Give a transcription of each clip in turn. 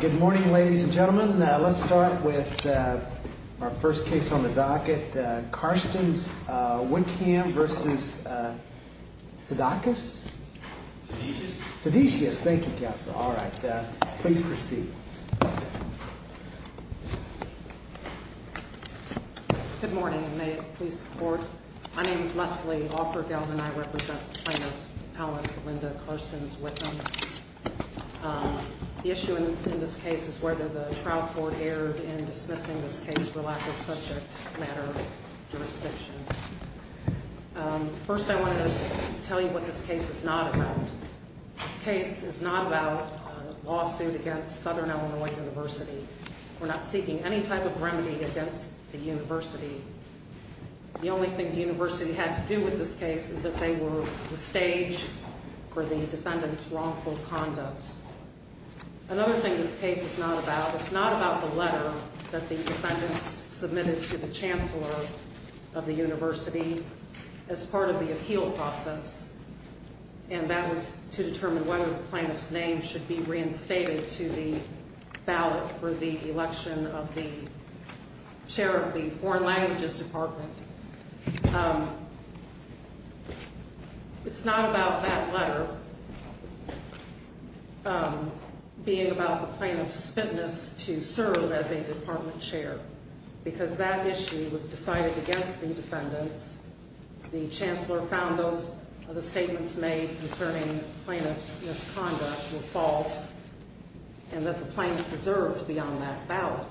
Good morning, ladies and gentlemen. Let's start with our first case on the docket. Carstens-Wickham v. Sedycias. Thank you, counsel. All right. Please proceed. Good morning, and may it please the Court. My name is Leslie Offergeld, and I represent Plaintiff Appellant Linda Carstens-Wickham. The issue in this case is whether the trial court erred in dismissing this case for lack of subject matter jurisdiction. First, I wanted to tell you what this case is not about. This case is not about a lawsuit against Southern Illinois University. We're not seeking any type of remedy against the university. The only thing the university had to do with this case is that they were the stage for the defendant's wrongful conduct. Another thing this case is not about, it's not about the letter that the defendants submitted to the chancellor of the university as part of the appeal process, and that was to determine whether the plaintiff's name should be reinstated to the ballot for the election of the chair of the Foreign Languages Department. It's not about that letter being about the plaintiff's fitness to serve as a department chair, because that issue was decided against the defendants. The chancellor found those statements made concerning the plaintiff's misconduct were false, and that the plaintiff deserved to be on that ballot.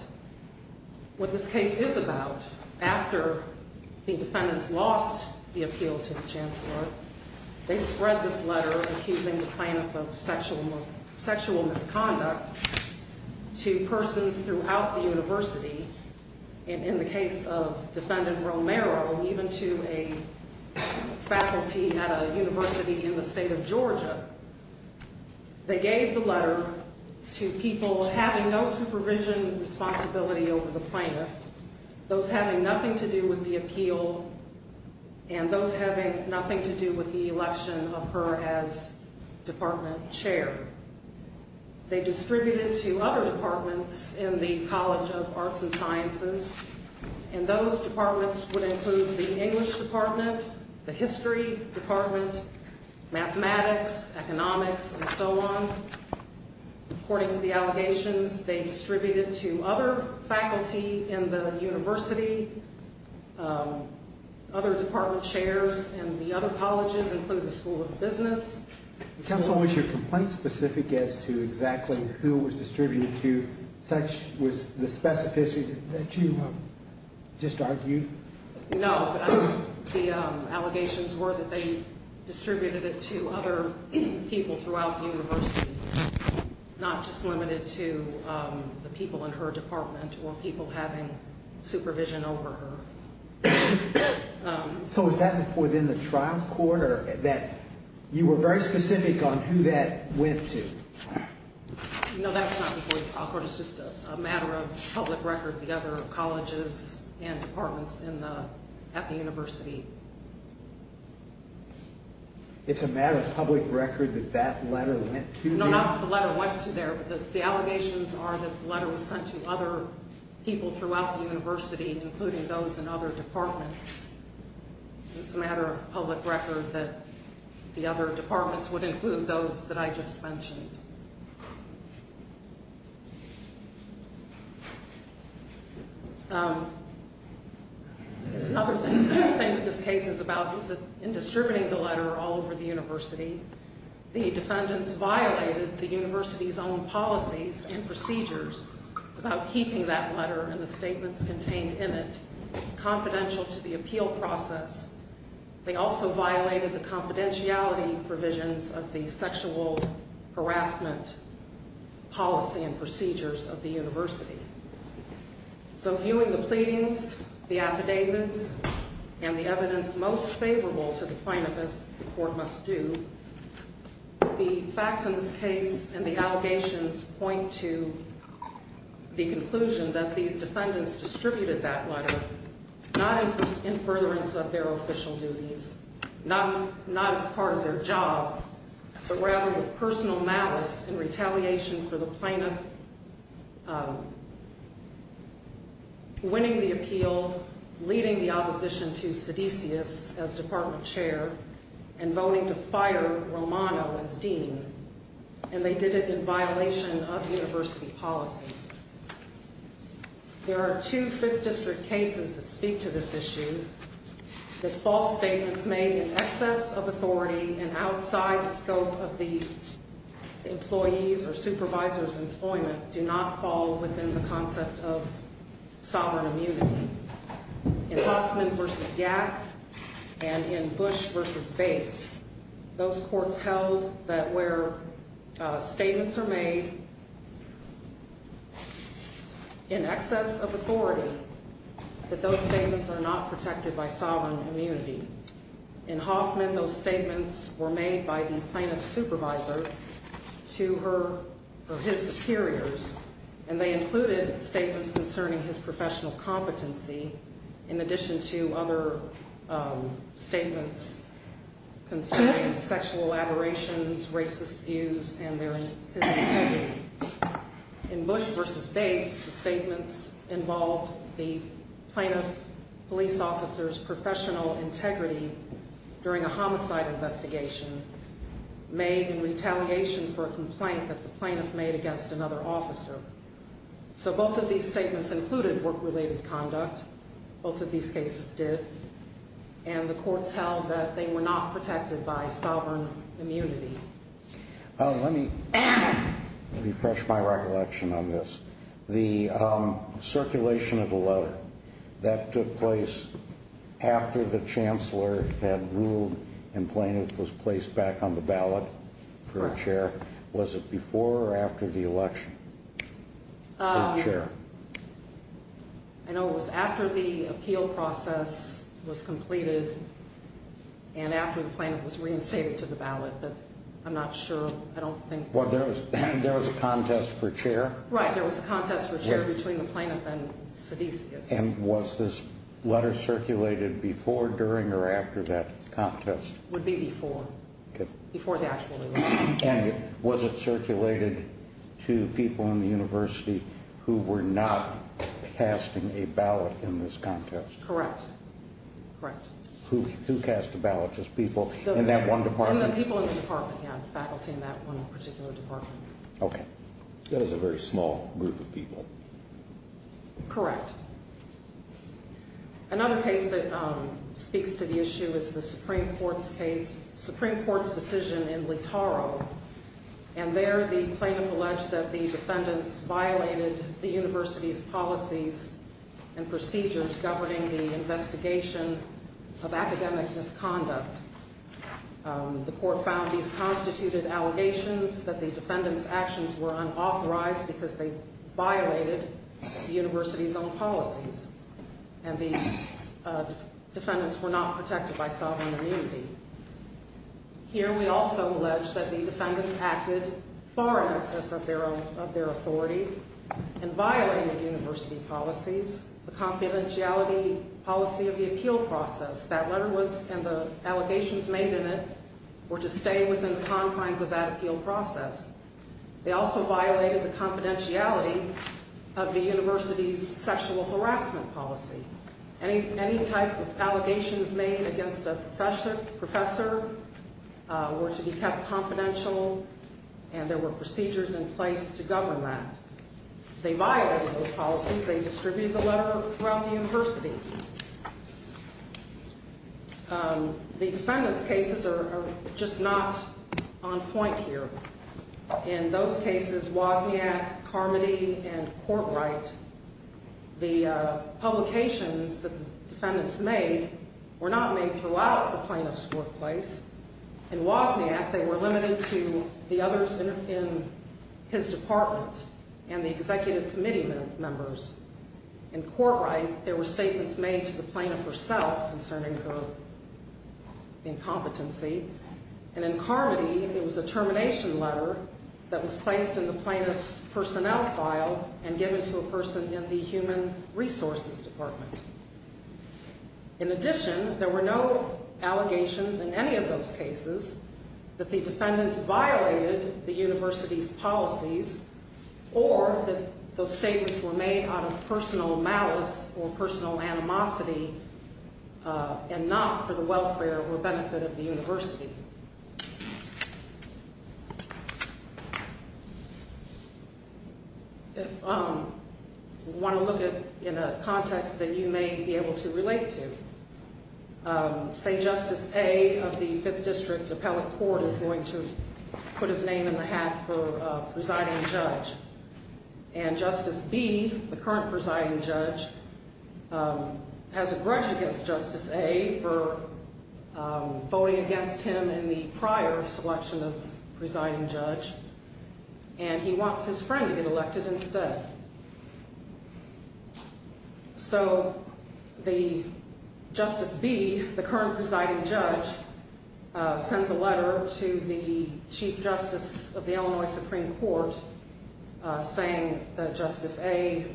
What this case is about, after the defendants lost the appeal to the chancellor, they spread this letter accusing the plaintiff of sexual misconduct to persons throughout the university. In the case of defendant Romero, even to a faculty at a university in the state of Georgia, they gave the letter to people having no supervision responsibility over the plaintiff, those having nothing to do with the appeal, and those having nothing to do with the election of her as department chair. They distributed to other departments in the College of Arts and Sciences, and those departments would include the English Department, the History Department, Mathematics, Economics, and so on. According to the allegations, they distributed to other faculty in the university, other department chairs, and the other colleges, including the School of Business. Counsel, was your complaint specific as to exactly who it was distributed to? Such was the specificity that you just argued? No. The allegations were that they distributed it to other people throughout the university, not just limited to the people in her department or people having supervision over her. So was that before then the trial court, or that you were very specific on who that went to? No, that was not before the trial court. It's just a matter of public record, the other colleges and departments at the university. It's a matter of public record that that letter went to the... No, not that the letter went to there. The allegations are that the letter was sent to other people throughout the university, including those in other departments. It's a matter of public record that the other departments would include those that I just mentioned. Another thing that this case is about is that in distributing the letter all over the university, the defendants violated the university's own policies and procedures about keeping that letter and the statements contained in it confidential to the appeal process. They also violated the confidentiality provisions of the sexual harassment policy and procedures of the university. So viewing the pleadings, the affidavits, and the evidence most favorable to the plaintiff, as the court must do, the facts in this case and the allegations point to the conclusion that these defendants distributed that letter not in furtherance of their official duties, not as part of their jobs, but rather with personal malice and retaliation for the plaintiff winning the appeal, leading the opposition to Sedisius as department chair, and voting to fire Romano as dean, and they did it in violation of university policy. There are two 5th District cases that speak to this issue. The false statements made in excess of authority and outside the scope of the employee's or supervisor's employment do not fall within the concept of sovereign immunity. In Hoffman v. Gack and in Bush v. Bates, those courts held that where statements are made in excess of authority, that those statements are not protected by sovereign immunity. In Hoffman, those statements were made by the plaintiff's supervisor to her or his superiors, and they included statements concerning his professional competency in addition to other statements concerning sexual aberrations, racist views, and their integrity. In Bush v. Bates, the statements involved the plaintiff police officer's professional integrity during a homicide investigation made in retaliation for a complaint that the plaintiff made against another officer. So both of these statements included work-related conduct, both of these cases did, and the courts held that they were not protected by sovereign immunity. Let me refresh my recollection on this. The circulation of the letter that took place after the chancellor had ruled and the plaintiff was placed back on the ballot for a chair, was it before or after the election for a chair? I know it was after the appeal process was completed and after the plaintiff was reinstated to the ballot, but I'm not sure. There was a contest for chair? Right, there was a contest for chair between the plaintiff and Sedisius. And was this letter circulated before, during, or after that contest? It would be before, before the actual election. And was it circulated to people in the university who were not casting a ballot in this contest? Correct, correct. Who cast the ballot, just people in that one department? People in the department, yeah, faculty in that one particular department. Okay. That is a very small group of people. Correct. Another case that speaks to the issue is the Supreme Court's case, Supreme Court's decision in Leetoro. And there the plaintiff alleged that the defendants violated the university's policies and procedures governing the investigation of academic misconduct. The court found these constituted allegations that the defendants' actions were unauthorized because they violated the university's own policies. And the defendants were not protected by sovereign immunity. Here we also allege that the defendants acted far in excess of their authority and violated university policies. The confidentiality policy of the appeal process, that letter was, and the allegations made in it were to stay within the confines of that appeal process. They also violated the confidentiality of the university's sexual harassment policy. Any type of allegations made against a professor were to be kept confidential and there were procedures in place to govern that. They violated those policies. They distributed the letter throughout the university. The defendants' cases are just not on point here. In those cases, Wozniak, Carmody, and Courtright, the publications that the defendants made were not made throughout the plaintiff's workplace. In Wozniak, they were limited to the others in his department and the executive committee members. In Courtright, there were statements made to the plaintiff herself concerning her incompetency. And in Carmody, there was a termination letter that was placed in the plaintiff's personnel file and given to a person in the human resources department. In addition, there were no allegations in any of those cases that the defendants violated the university's policies or that those statements were made out of personal malice or personal animosity and not for the welfare or benefit of the university. If you want to look at it in a context that you may be able to relate to, say Justice A. of the Fifth District Appellate Court is going to put his name in the hat for presiding judge. And Justice B., the current presiding judge, has a grudge against Justice A. for voting against him in the prior selection of presiding judge. And he wants his friend to get elected instead. So Justice B., the current presiding judge, sends a letter to the Chief Justice of the Illinois Supreme Court saying that Justice A.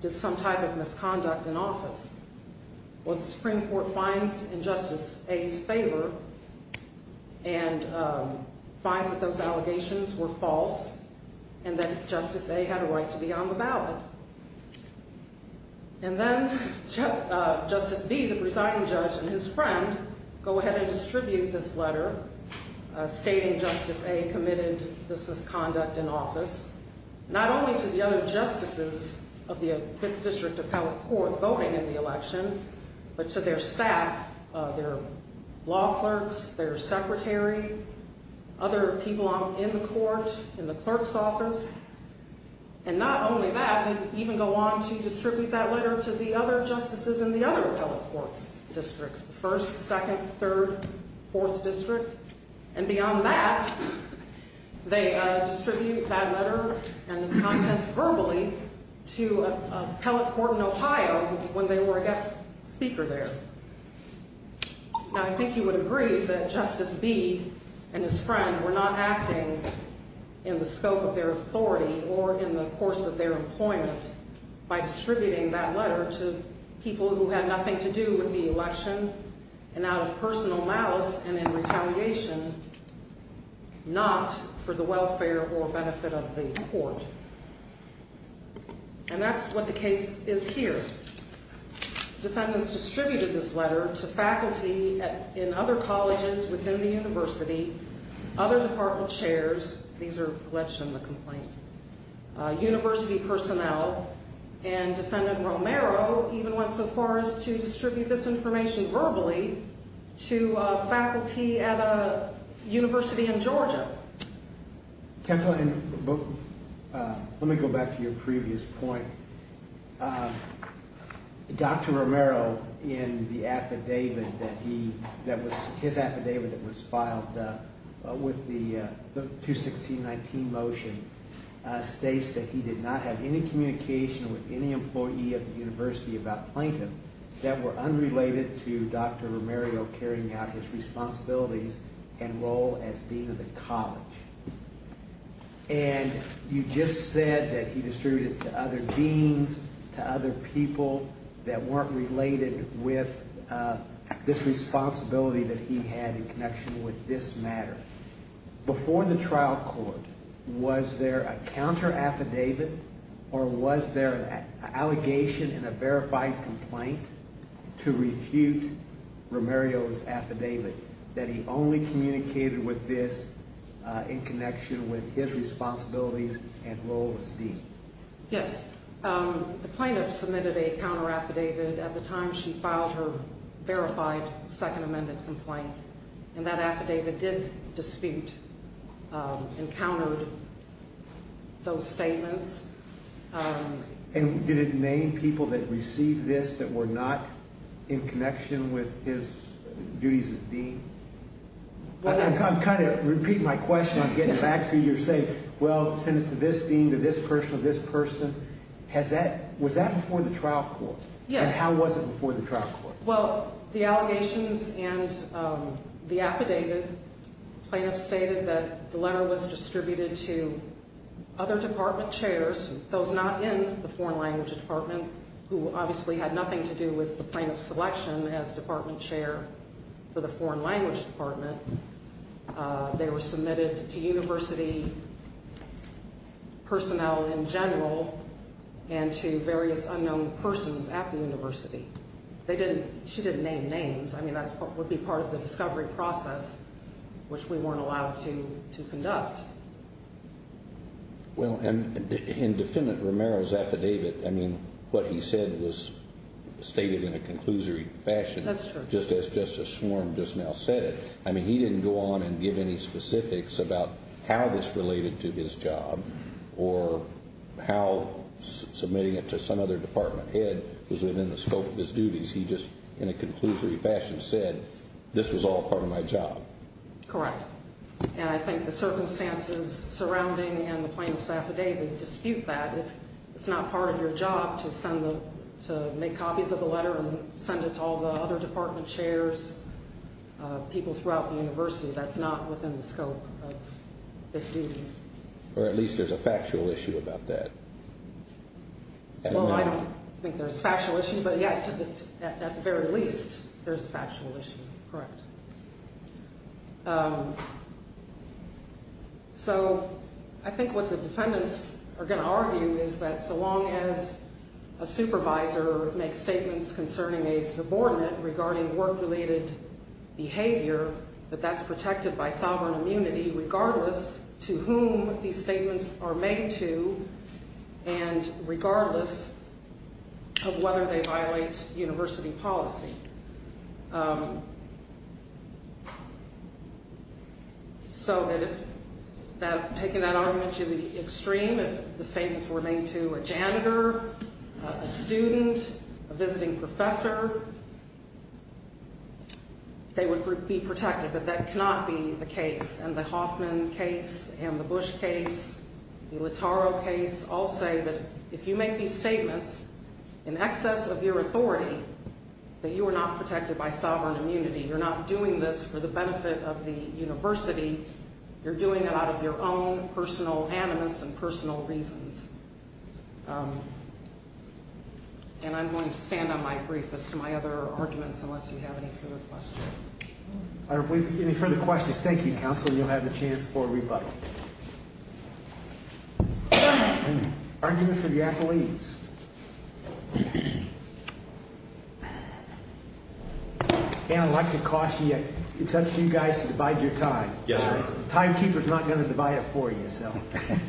did some type of misconduct in office. Well, the Supreme Court finds in Justice A.'s favor and finds that those allegations were false and that Justice A. had a right to be on the ballot. And then Justice B., the presiding judge, and his friend go ahead and distribute this letter stating Justice A. committed this misconduct in office. Not only to the other justices of the Fifth District Appellate Court voting in the election, but to their staff, their law clerks, their secretary, other people in the court, in the clerk's office. And not only that, they even go on to distribute that letter to the other justices in the other appellate court districts, the First, Second, Third, Fourth District. And beyond that, they distribute that letter and its contents verbally to an appellate court in Ohio when they were a guest speaker there. Now, I think you would agree that Justice B. and his friend were not acting in the scope of their authority or in the course of their employment by distributing that letter to people who had nothing to do with the election and out of personal malice and in retaliation, not for the welfare or benefit of the court. And that's what the case is here. Defendants distributed this letter to faculty in other colleges within the university, other department chairs. These are alleged in the complaint. University personnel and Defendant Romero even went so far as to distribute this information verbally to faculty at a university in Georgia. Counselor, let me go back to your previous point. Dr. Romero in the affidavit that he that was his affidavit that was filed with the 216-19 motion states that he did not have any communication with any employee of the university about plaintiff that were unrelated to Dr. Romero carrying out his responsibilities and role as dean of the college. And you just said that he distributed to other deans, to other people that weren't related with this responsibility that he had in connection with this matter. Before the trial court, was there a counter affidavit or was there an allegation in a verified complaint to refute Romero's affidavit that he only communicated with this in connection with his responsibilities and role as dean? Yes, the plaintiff submitted a counter affidavit at the time she filed her verified second amended complaint and that affidavit did dispute and countered those statements. And did it name people that received this that were not in connection with his duties as dean? I'm kind of repeating my question. I'm getting back to your saying, well, send it to this dean, to this person, to this person. Has that, was that before the trial court? Yes. And how was it before the trial court? Well, the allegations and the affidavit, plaintiff stated that the letter was distributed to other department chairs, those not in the foreign language department, who obviously had nothing to do with the plaintiff's selection as department chair for the foreign language department. They were submitted to university personnel in general and to various unknown persons at the university. They didn't, she didn't name names. I mean, that would be part of the discovery process, which we weren't allowed to conduct. Well, and in defendant Romero's affidavit, I mean, what he said was stated in a conclusory fashion. That's true. Just as Justice Swarm just now said it. I mean, he didn't go on and give any specifics about how this related to his job or how submitting it to some other department head was within the scope of his duties. He just, in a conclusory fashion, said this was all part of my job. Correct. And I think the circumstances surrounding and the plaintiff's affidavit dispute that. It's not part of your job to send the, to make copies of the letter and send it to all the other department chairs, people throughout the university. That's not within the scope of his duties. Or at least there's a factual issue about that. Well, I don't think there's a factual issue, but yet, at the very least, there's a factual issue. Correct. So I think what the defendants are going to argue is that so long as a supervisor makes statements concerning a subordinate regarding work-related behavior, that that's protected by sovereign immunity regardless to whom these statements are made to and regardless of whether they violate university policy. So that if that, taking that argument to the extreme, if the statements were made to a janitor, a student, a visiting professor, they would be protected. But that cannot be the case. And the Hoffman case and the Bush case, the Littaro case, all say that if you make these statements in excess of your authority, that you are not protected by sovereign immunity. You're not doing this for the benefit of the university. You're doing it out of your own personal animus and personal reasons. And I'm going to stand on my brief as to my other arguments unless you have any further questions. Are there any further questions? Thank you, counsel. You'll have a chance for rebuttal. Argument for the athletes. And I'd like to caution you. It's up to you guys to divide your time. Yes, sir. The timekeeper's not going to divide it for you, so.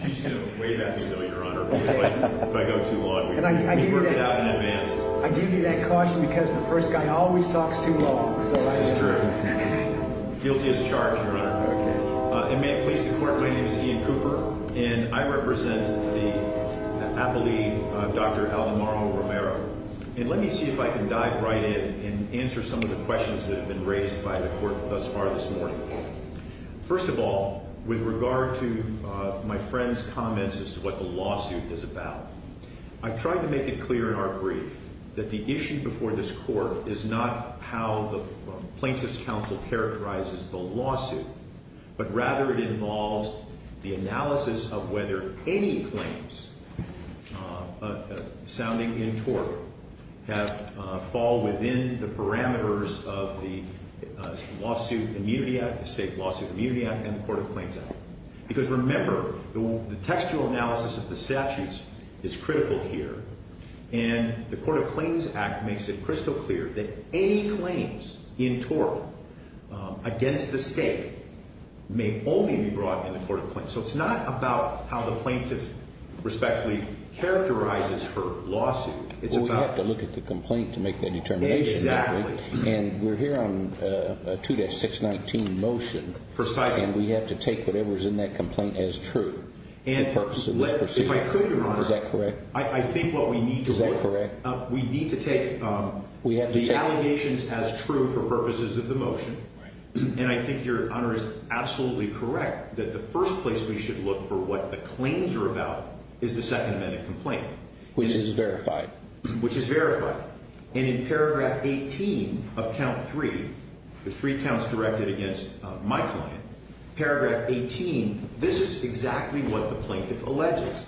You should know way better than that, Your Honor. If I go too long, we can work it out in advance. I give you that caution because the first guy always talks too long. This is true. Guilty as charged, Your Honor. And may it please the Court, my name is Ian Cooper, and I represent the athlete Dr. Aldemaro Romero. And let me see if I can dive right in and answer some of the questions that have been raised by the Court thus far this morning. First of all, with regard to my friend's comments as to what the lawsuit is about, I've tried to make it clear in our brief. That the issue before this Court is not how the plaintiff's counsel characterizes the lawsuit. But rather, it involves the analysis of whether any claims sounding in court fall within the parameters of the State Lawsuit Immunity Act and the Court of Claims Act. Because remember, the textual analysis of the statutes is critical here. And the Court of Claims Act makes it crystal clear that any claims in tort against the State may only be brought in the Court of Claims. So it's not about how the plaintiff respectfully characterizes her lawsuit. It's about... Well, we have to look at the complaint to make that determination. Exactly. And we're here on a 2-619 motion. Precisely. And we have to take whatever's in that complaint as true. If I could, Your Honor. Is that correct? I think what we need to do... Is that correct? We need to take the allegations as true for purposes of the motion. And I think Your Honor is absolutely correct that the first place we should look for what the claims are about is the Second Amendment complaint. Which is verified. Which is verified. And in Paragraph 18 of Count 3, the three counts directed against my client, Paragraph 18, this is exactly what the plaintiff alleges.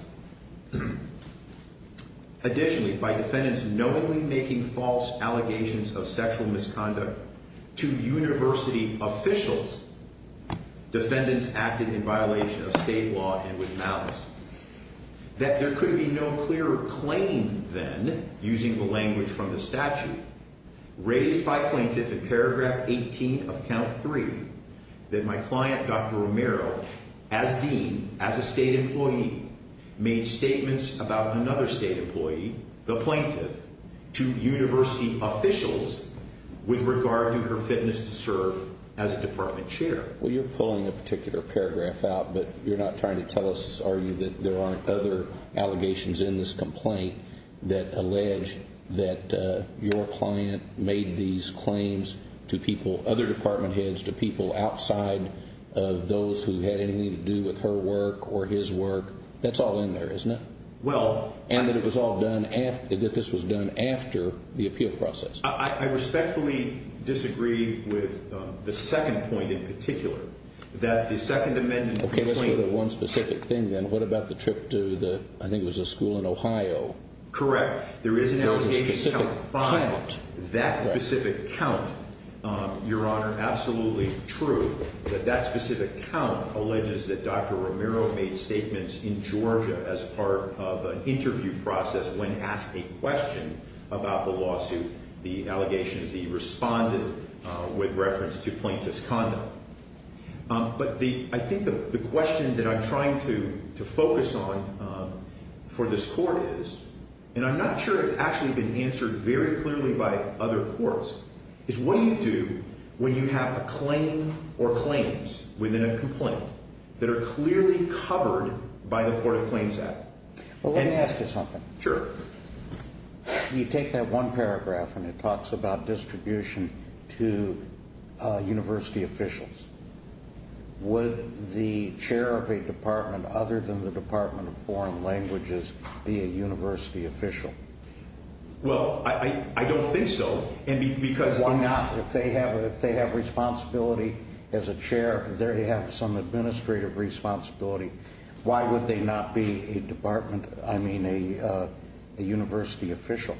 Additionally, by defendants knowingly making false allegations of sexual misconduct to university officials, defendants acted in violation of state law and with malice. That there could be no clearer claim then, using the language from the statute, raised by plaintiff in Paragraph 18 of Count 3, that my client, Dr. Romero, as dean, as a state employee, made statements about another state employee, the plaintiff, to university officials with regard to her fitness to serve as a department chair. Well, you're pulling a particular paragraph out, but you're not trying to tell us, are you, that there aren't other allegations in this complaint that allege that your client made these claims to people, other department heads, to people outside of those who had anything to do with her work or his work. That's all in there, isn't it? Well... And that it was all done after, that this was done after the appeal process. I respectfully disagree with the second point in particular, that the Second Amendment... Okay, let's go to one specific thing, then. What about the trip to the, I think it was a school in Ohio? Correct. There is an allegation... There was a specific count. He responded with reference to plaintiff's condom. But the, I think the question that I'm trying to focus on for this court is, and I'm not sure it's actually been answered very clearly by other courts, is what do you do when you have a claim or claims within a complaint that are clearly covered by the Court of Claims Act? Well, let me ask you something. Sure. You take that one paragraph and it talks about distribution to university officials. Would the chair of a department other than the Department of Foreign Languages be a university official? Well, I don't think so. And because... If they have responsibility as a chair, they have some administrative responsibility, why would they not be a department, I mean a university official?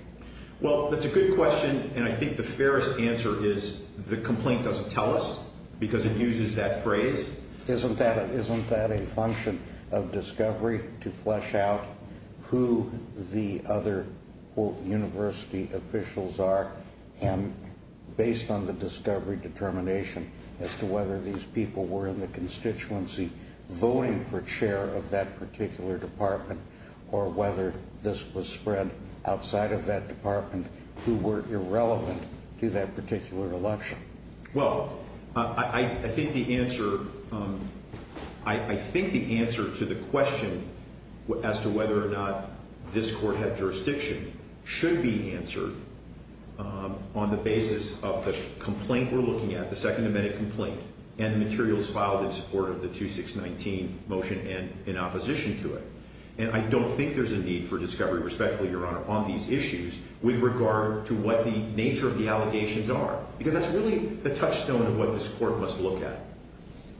Well, that's a good question, and I think the fairest answer is the complaint doesn't tell us, because it uses that phrase. Isn't that a function of discovery to flesh out who the other, quote, university officials are, and based on the discovery determination as to whether these people were in the constituency voting for chair of that particular department, or whether this was spread outside of that department who were irrelevant to that particular election? Well, I think the answer to the question as to whether or not this court had jurisdiction should be answered on the basis of the complaint we're looking at, the Second Amendment complaint, and the materials filed in support of the 2619 motion and in opposition to it. And I don't think there's a need for discovery, respectfully, Your Honor, on these issues with regard to what the nature of the allegations are, because that's really the touchstone of what this court must look at.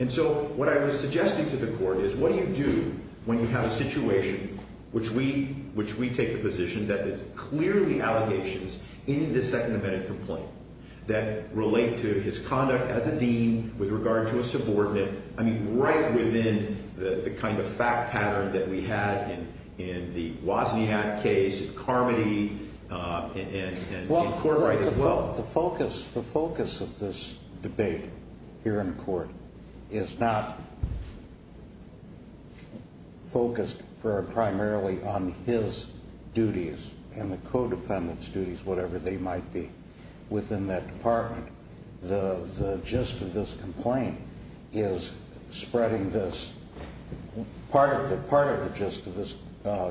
And so what I was suggesting to the court is what do you do when you have a situation which we take the position that there's clearly allegations in the Second Amendment complaint that relate to his conduct as a dean with regard to a subordinate, I mean right within the kind of fact pattern that we had in the Wozniak case, and Carmody, and Courtright as well. Well, the focus of this debate here in court is not focused primarily on his duties and the co-defendant's duties, whatever they might be, within that department. The gist of this complaint is spreading this – part of the gist of this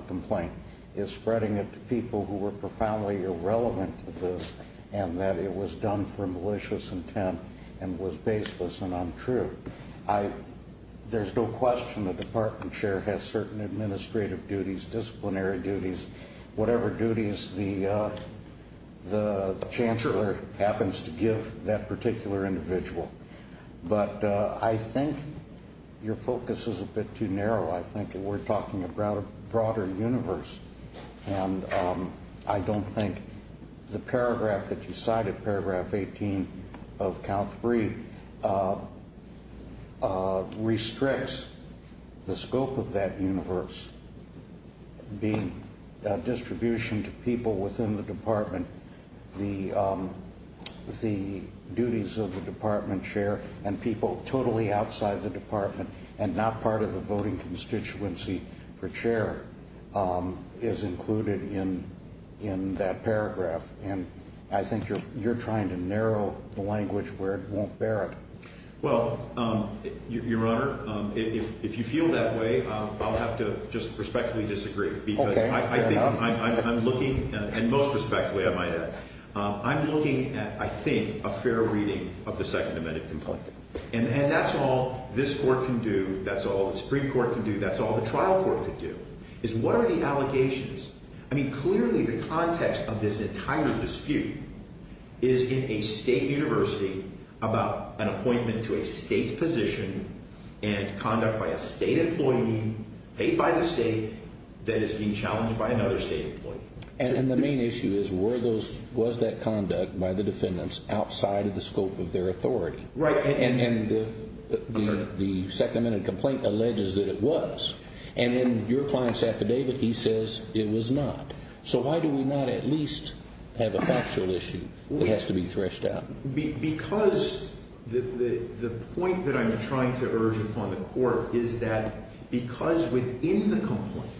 complaint is spreading it to people who were profoundly irrelevant to this and that it was done for malicious intent and was baseless and untrue. There's no question the department chair has certain administrative duties, disciplinary duties, whatever duties the chancellor happens to give that particular individual. But I think your focus is a bit too narrow. I think we're talking about a broader universe, and I don't think the paragraph that you cited, paragraph 18 of count three, restricts the scope of that universe. It's being – distribution to people within the department, the duties of the department chair and people totally outside the department and not part of the voting constituency for chair is included in that paragraph, and I think you're trying to narrow the language where it won't bear it. Well, your honor, if you feel that way, I'll have to just respectfully disagree because I think I'm looking – and most respectfully, I might add. I'm looking at, I think, a fair reading of the Second Amendment complaint, and that's all this court can do, that's all the Supreme Court can do, that's all the trial court can do is what are the allegations? I mean, clearly the context of this entire dispute is in a state university about an appointment to a state position and conduct by a state employee paid by the state that is being challenged by another state employee. And the main issue is were those – was that conduct by the defendants outside of the scope of their authority? Right. And the Second Amendment complaint alleges that it was. And in your client's affidavit, he says it was not. So why do we not at least have a factual issue that has to be threshed out? Because the point that I'm trying to urge upon the court is that because within the complaint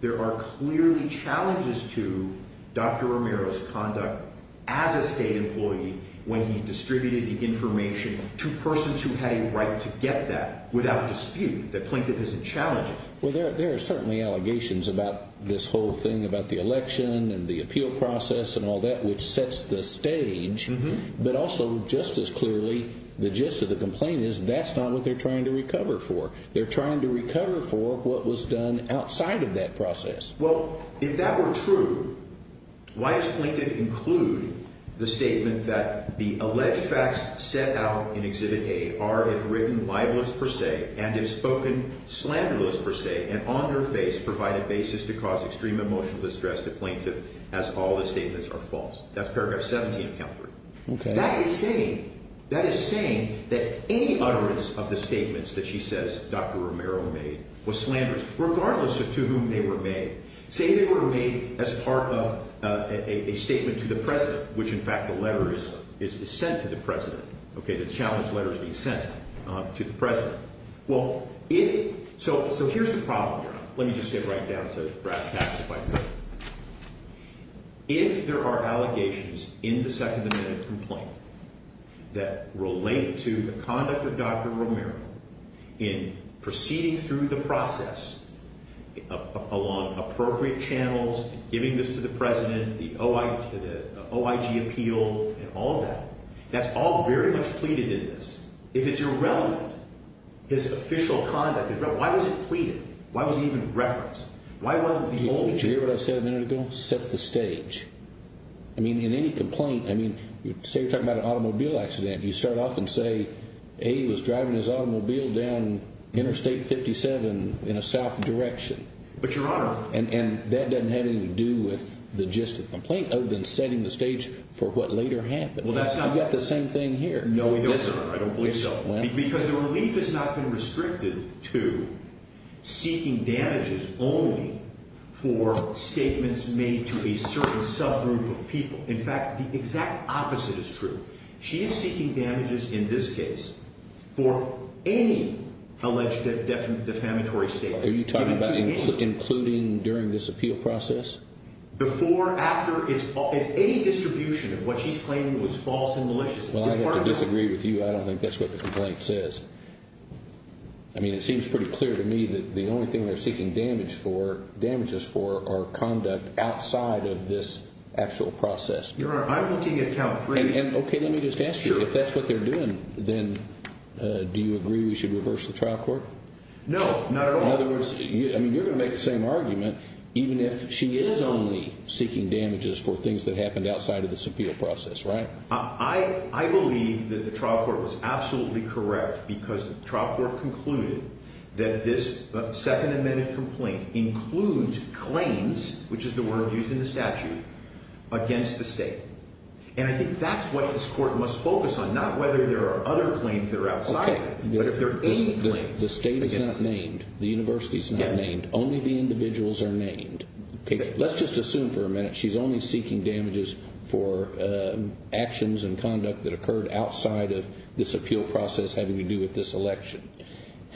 there are clearly challenges to Dr. Romero's conduct as a state employee when he distributed the information to persons who had a right to get that without dispute that Plaintiff isn't challenging. Well, there are certainly allegations about this whole thing about the election and the appeal process and all that which sets the stage, but also just as clearly the gist of the complaint is that's not what they're trying to recover for. They're trying to recover for what was done outside of that process. Well, if that were true, why does Plaintiff include the statement that the alleged facts set out in Exhibit A are, if written, libelous per se, and if spoken, slanderous per se, and on their face provide a basis to cause extreme emotional distress to Plaintiff as all the statements are false? That's paragraph 17 of count three. Okay. That is saying that any utterance of the statements that she says Dr. Romero made was slanderous, regardless of to whom they were made. Say they were made as part of a statement to the President, which in fact the letter is sent to the President. Okay, the challenge letter is being sent to the President. So here's the problem here. Let me just get right down to brass tacks if I can. If there are allegations in the second amendment complaint that relate to the conduct of Dr. Romero in proceeding through the process along appropriate channels, giving this to the President, the OIG appeal and all that, that's all very much pleaded in this. If it's irrelevant, his official conduct, why was it pleaded? Why was he even referenced? Do you hear what I said a minute ago? Set the stage. I mean, in any complaint, I mean, say you're talking about an automobile accident, you start off and say, A, he was driving his automobile down Interstate 57 in a south direction. But, Your Honor. And that doesn't have anything to do with the gist of the complaint other than setting the stage for what later happened. Well, that's not. You've got the same thing here. No, Your Honor. I don't believe so. Because the relief has not been restricted to seeking damages only for statements made to a certain subgroup of people. In fact, the exact opposite is true. She is seeking damages in this case for any alleged defamatory statement. Are you talking about including during this appeal process? Before, after, it's a distribution of what she's claiming was false and malicious. Well, I have to disagree with you. I don't think that's what the complaint says. I mean, it seems pretty clear to me that the only thing they're seeking damages for are conduct outside of this actual process. Your Honor, I'm looking at count three. And, okay, let me just ask you. If that's what they're doing, then do you agree we should reverse the trial court? No, not at all. In other words, I mean, you're going to make the same argument even if she is only seeking damages for things that happened outside of this appeal process, right? I believe that the trial court was absolutely correct because the trial court concluded that this second amended complaint includes claims, which is the word used in the statute, against the state. And I think that's what this court must focus on, not whether there are other claims that are outside, but if there are any claims. The state is not named. The university is not named. Only the individuals are named. Okay, let's just assume for a minute she's only seeking damages for actions and conduct that occurred outside of this appeal process having to do with this election.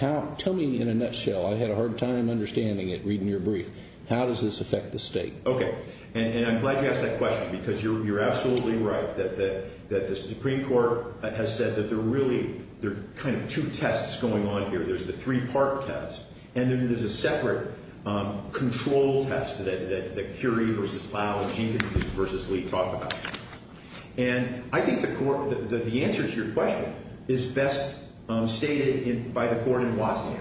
Tell me in a nutshell. I had a hard time understanding it reading your brief. How does this affect the state? Okay, and I'm glad you asked that question because you're absolutely right that the Supreme Court has said that there are really kind of two tests going on here. There's the three-part test, and then there's a separate control test that Curie v. Lowe and Jenkins v. Lee talk about. And I think the answer to your question is best stated by the court in Watson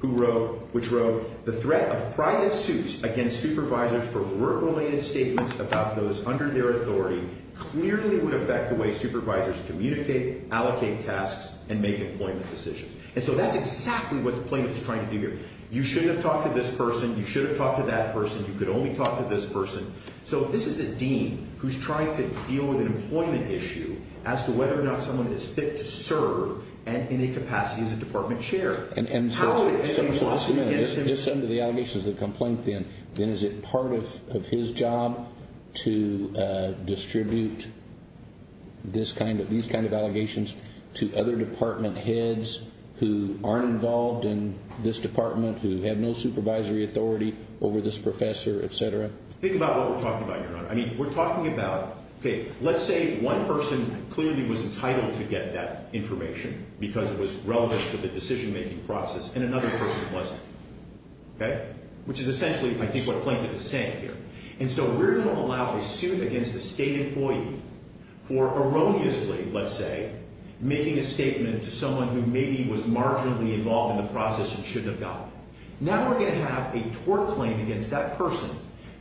who wrote, which wrote, the threat of private suits against supervisors for word-related statements about those under their authority clearly would affect the way supervisors communicate, allocate tasks, and make employment decisions. And so that's exactly what the plaintiff is trying to do here. You shouldn't have talked to this person. You should have talked to that person. You could only talk to this person. So this is a dean who's trying to deal with an employment issue as to whether or not someone is fit to serve in a capacity as a department chair. And Senator Smith, if this under the allegations of the complaint, then is it part of his job to distribute these kind of allegations to other department heads who aren't involved in this department, who have no supervisory authority over this professor, et cetera? Think about what we're talking about, Your Honor. I mean, we're talking about, okay, let's say one person clearly was entitled to get that information because it was relevant to the decision-making process and another person wasn't, okay, which is essentially, I think, what the plaintiff is saying here. And so we're going to allow a suit against a state employee for erroneously, let's say, making a statement to someone who maybe was marginally involved in the process and shouldn't have gotten it. Now we're going to have a tort claim against that person,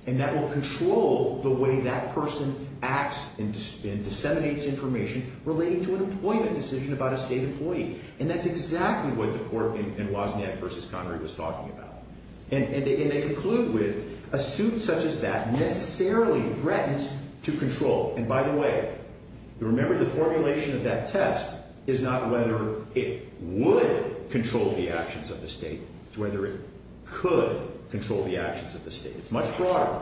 and that will control the way that person acts and disseminates information relating to an employment decision about a state employee. And that's exactly what the court in Wozniak v. Connery was talking about. And they conclude with, a suit such as that necessarily threatens to control. And by the way, remember the formulation of that test is not whether it would control the actions of the state. It's whether it could control the actions of the state. It's much broader.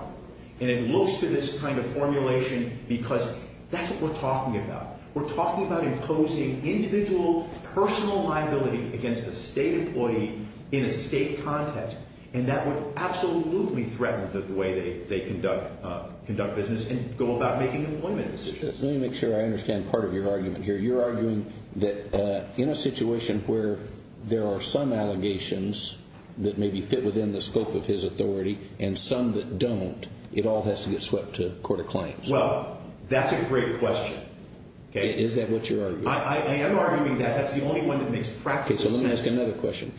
And it looks to this kind of formulation because that's what we're talking about. We're talking about imposing individual personal liability against a state employee in a state context. And that would absolutely threaten the way they conduct business and go about making employment decisions. Let me make sure I understand part of your argument here. You're arguing that in a situation where there are some allegations that maybe fit within the scope of his authority and some that don't, it all has to get swept to court of claims. Well, that's a great question. Is that what you're arguing? I am arguing that. That's the only one that makes practical sense. Okay, so let me ask another question.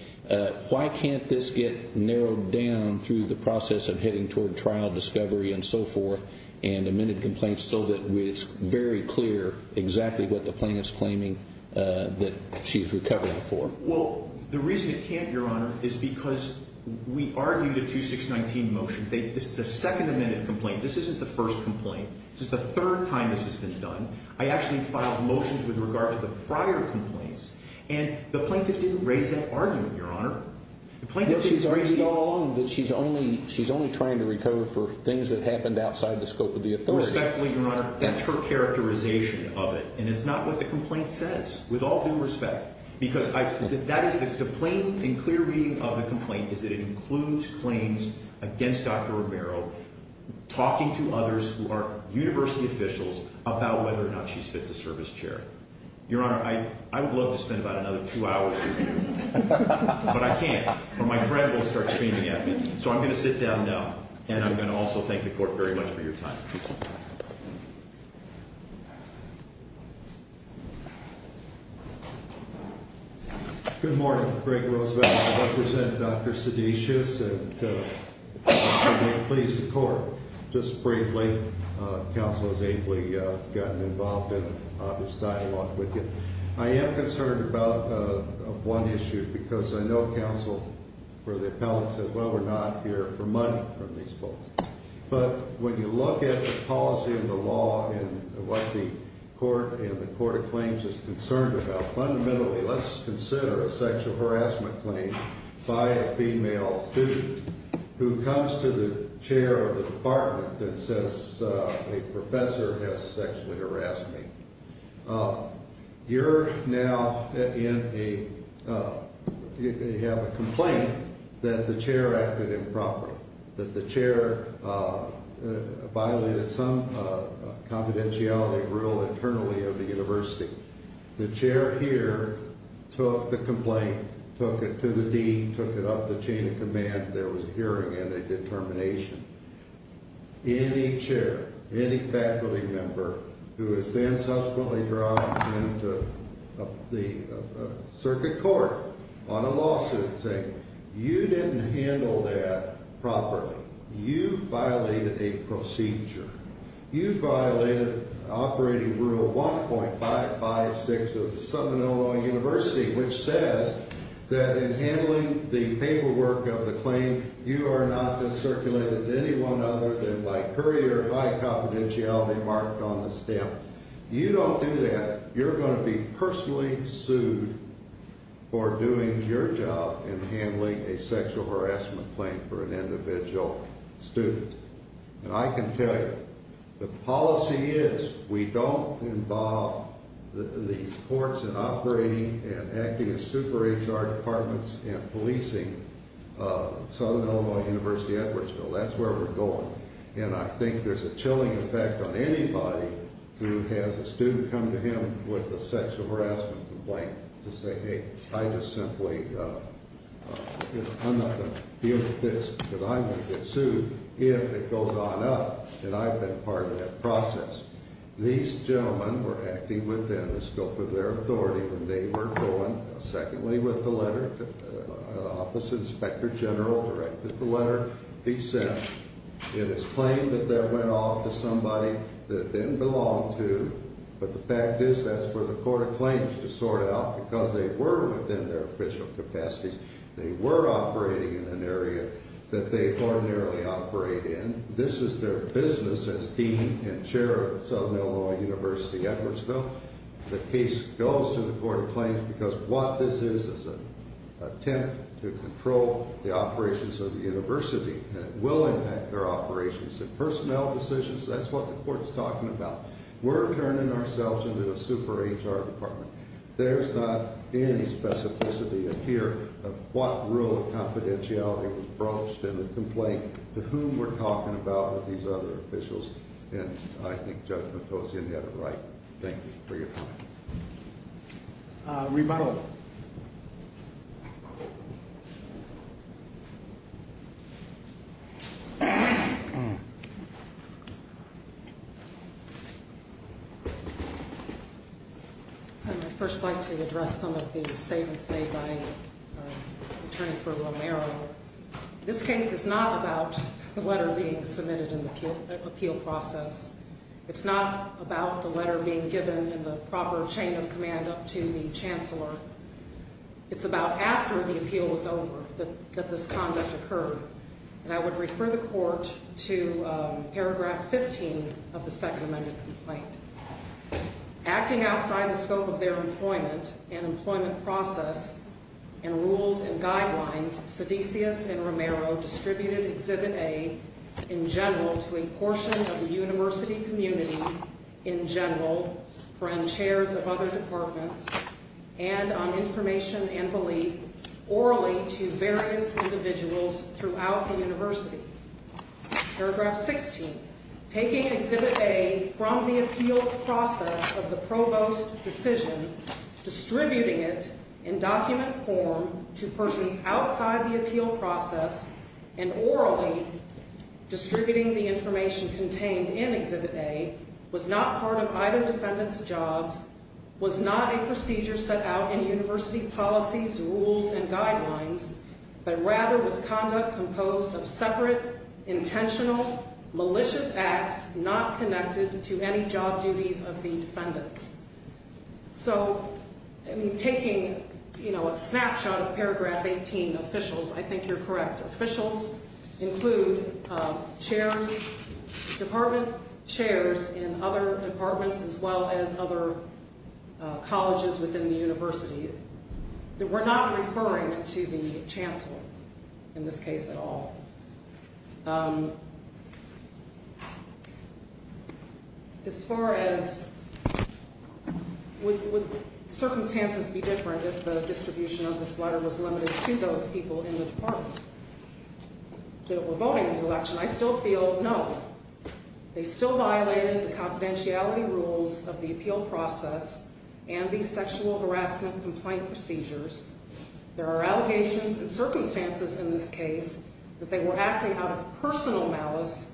Why can't this get narrowed down through the process of heading toward trial discovery and so forth and amended complaints so that it's very clear exactly what the plaintiff's claiming that she's recovering for? Well, the reason it can't, Your Honor, is because we argued a 2619 motion. This is the second amended complaint. This isn't the first complaint. This is the third time this has been done. I actually filed motions with regard to the prior complaints, and the plaintiff didn't raise that argument, Your Honor. The plaintiff didn't raise the argument. No, she's arguing all along that she's only trying to recover for things that happened outside the scope of the authority. Respectfully, Your Honor, that's her characterization of it, and it's not what the complaint says, with all due respect. The plain and clear reading of the complaint is that it includes claims against Dr. Romero talking to others who are university officials about whether or not she's fit to serve as chair. Your Honor, I would love to spend about another two hours with you, but I can't, or my friend will start screaming at me. So I'm going to sit down now, and I'm going to also thank the court very much for your time. Good morning. Greg Roosevelt. I represent Dr. Sedatius, and may it please the court, just briefly, counsel has ably gotten involved in this dialogue with you. I am concerned about one issue, because I know counsel or the appellant said, well, we're not here for money from these folks. But when you look at the policy and the law and what the court and the court of claims is concerned about, fundamentally, let's consider a sexual harassment claim by a female student who comes to the chair of the department and says a professor has sexually harassed me. You're now in a, you have a complaint that the chair acted improperly, that the chair violated some confidentiality rule internally of the university. The chair here took the complaint, took it to the dean, took it up the chain of command. There was a hearing and a determination. Any chair, any faculty member who is then subsequently brought into the circuit court on a lawsuit saying you didn't handle that properly, you violated a procedure. You violated operating rule 1.556 of the Southern Illinois University, which says that in handling the paperwork of the claim, you are not to circulate it to anyone other than by courier high confidentiality marked on the stamp. You don't do that. You're going to be personally sued for doing your job in handling a sexual harassment claim for an individual student. And I can tell you, the policy is we don't involve the courts in operating and acting as super HR departments in policing Southern Illinois University, Edwardsville. That's where we're going. And I think there's a chilling effect on anybody who has a student come to him with a sexual harassment complaint to say, hey, I just simply, I'm not going to deal with this because I'm going to get sued if it goes on up. And I've been part of that process. These gentlemen were acting within the scope of their authority when they were going, secondly, with the letter. Office of Inspector General directed the letter be sent. It is claimed that that went off to somebody that it didn't belong to. But the fact is that's where the court of claims to sort it out because they were within their official capacities. They were operating in an area that they ordinarily operate in. This is their business as dean and chair of Southern Illinois University, Edwardsville. The case goes to the court of claims because what this is is an attempt to control the operations of the university. And it will impact their operations and personnel decisions. That's what the court is talking about. We're turning ourselves into a super HR department. There's not any specificity here of what rule of confidentiality was broached in the complaint, to whom we're talking about with these other officials. And I think Judge Matosian had it right. Thank you for your time. Remodel. I'd first like to address some of the statements made by Attorney for Romero. This case is not about the letter being submitted in the appeal process. It's not about the letter being given in the proper chain of command up to the chancellor. It's about after the appeal is over that this conduct occurred. And I would refer the court to paragraph 15 of the Second Amendment complaint. Acting outside the scope of their employment and employment process and rules and guidelines, Sedisius and Romero distributed Exhibit A in general to a portion of the university community in general, from chairs of other departments, and on information and belief orally to various individuals throughout the university. Paragraph 16. Taking Exhibit A from the appeal process of the provost's decision, distributing it in document form to persons outside the appeal process, and orally distributing the information contained in Exhibit A, was not part of either defendant's jobs, was not a procedure set out in university policies, rules, and guidelines, but rather was conduct composed of separate, intentional, malicious acts not connected to any job duties of the defendants. So, I mean, taking, you know, a snapshot of paragraph 18, officials, I think you're correct. Officials include chairs, department chairs in other departments as well as other colleges within the university. We're not referring to the chancellor in this case at all. As far as would circumstances be different if the distribution of this letter was limited to those people in the department that were voting in the election, I still feel no. They still violated the confidentiality rules of the appeal process and the sexual harassment complaint procedures. There are allegations and circumstances in this case that they were acting out of personal malice,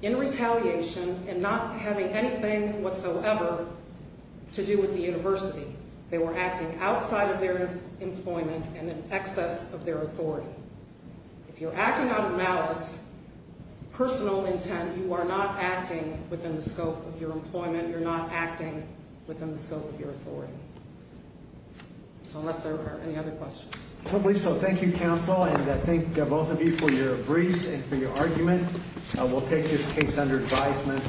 in retaliation, and not having anything whatsoever to do with the university. They were acting outside of their employment and in excess of their authority. If you're acting out of malice, personal intent, you are not acting within the scope of your employment. You're not acting within the scope of your authority, unless there are any other questions. Okay, so thank you, counsel, and I thank both of you for your briefs and for your argument. We'll take this case under advisement.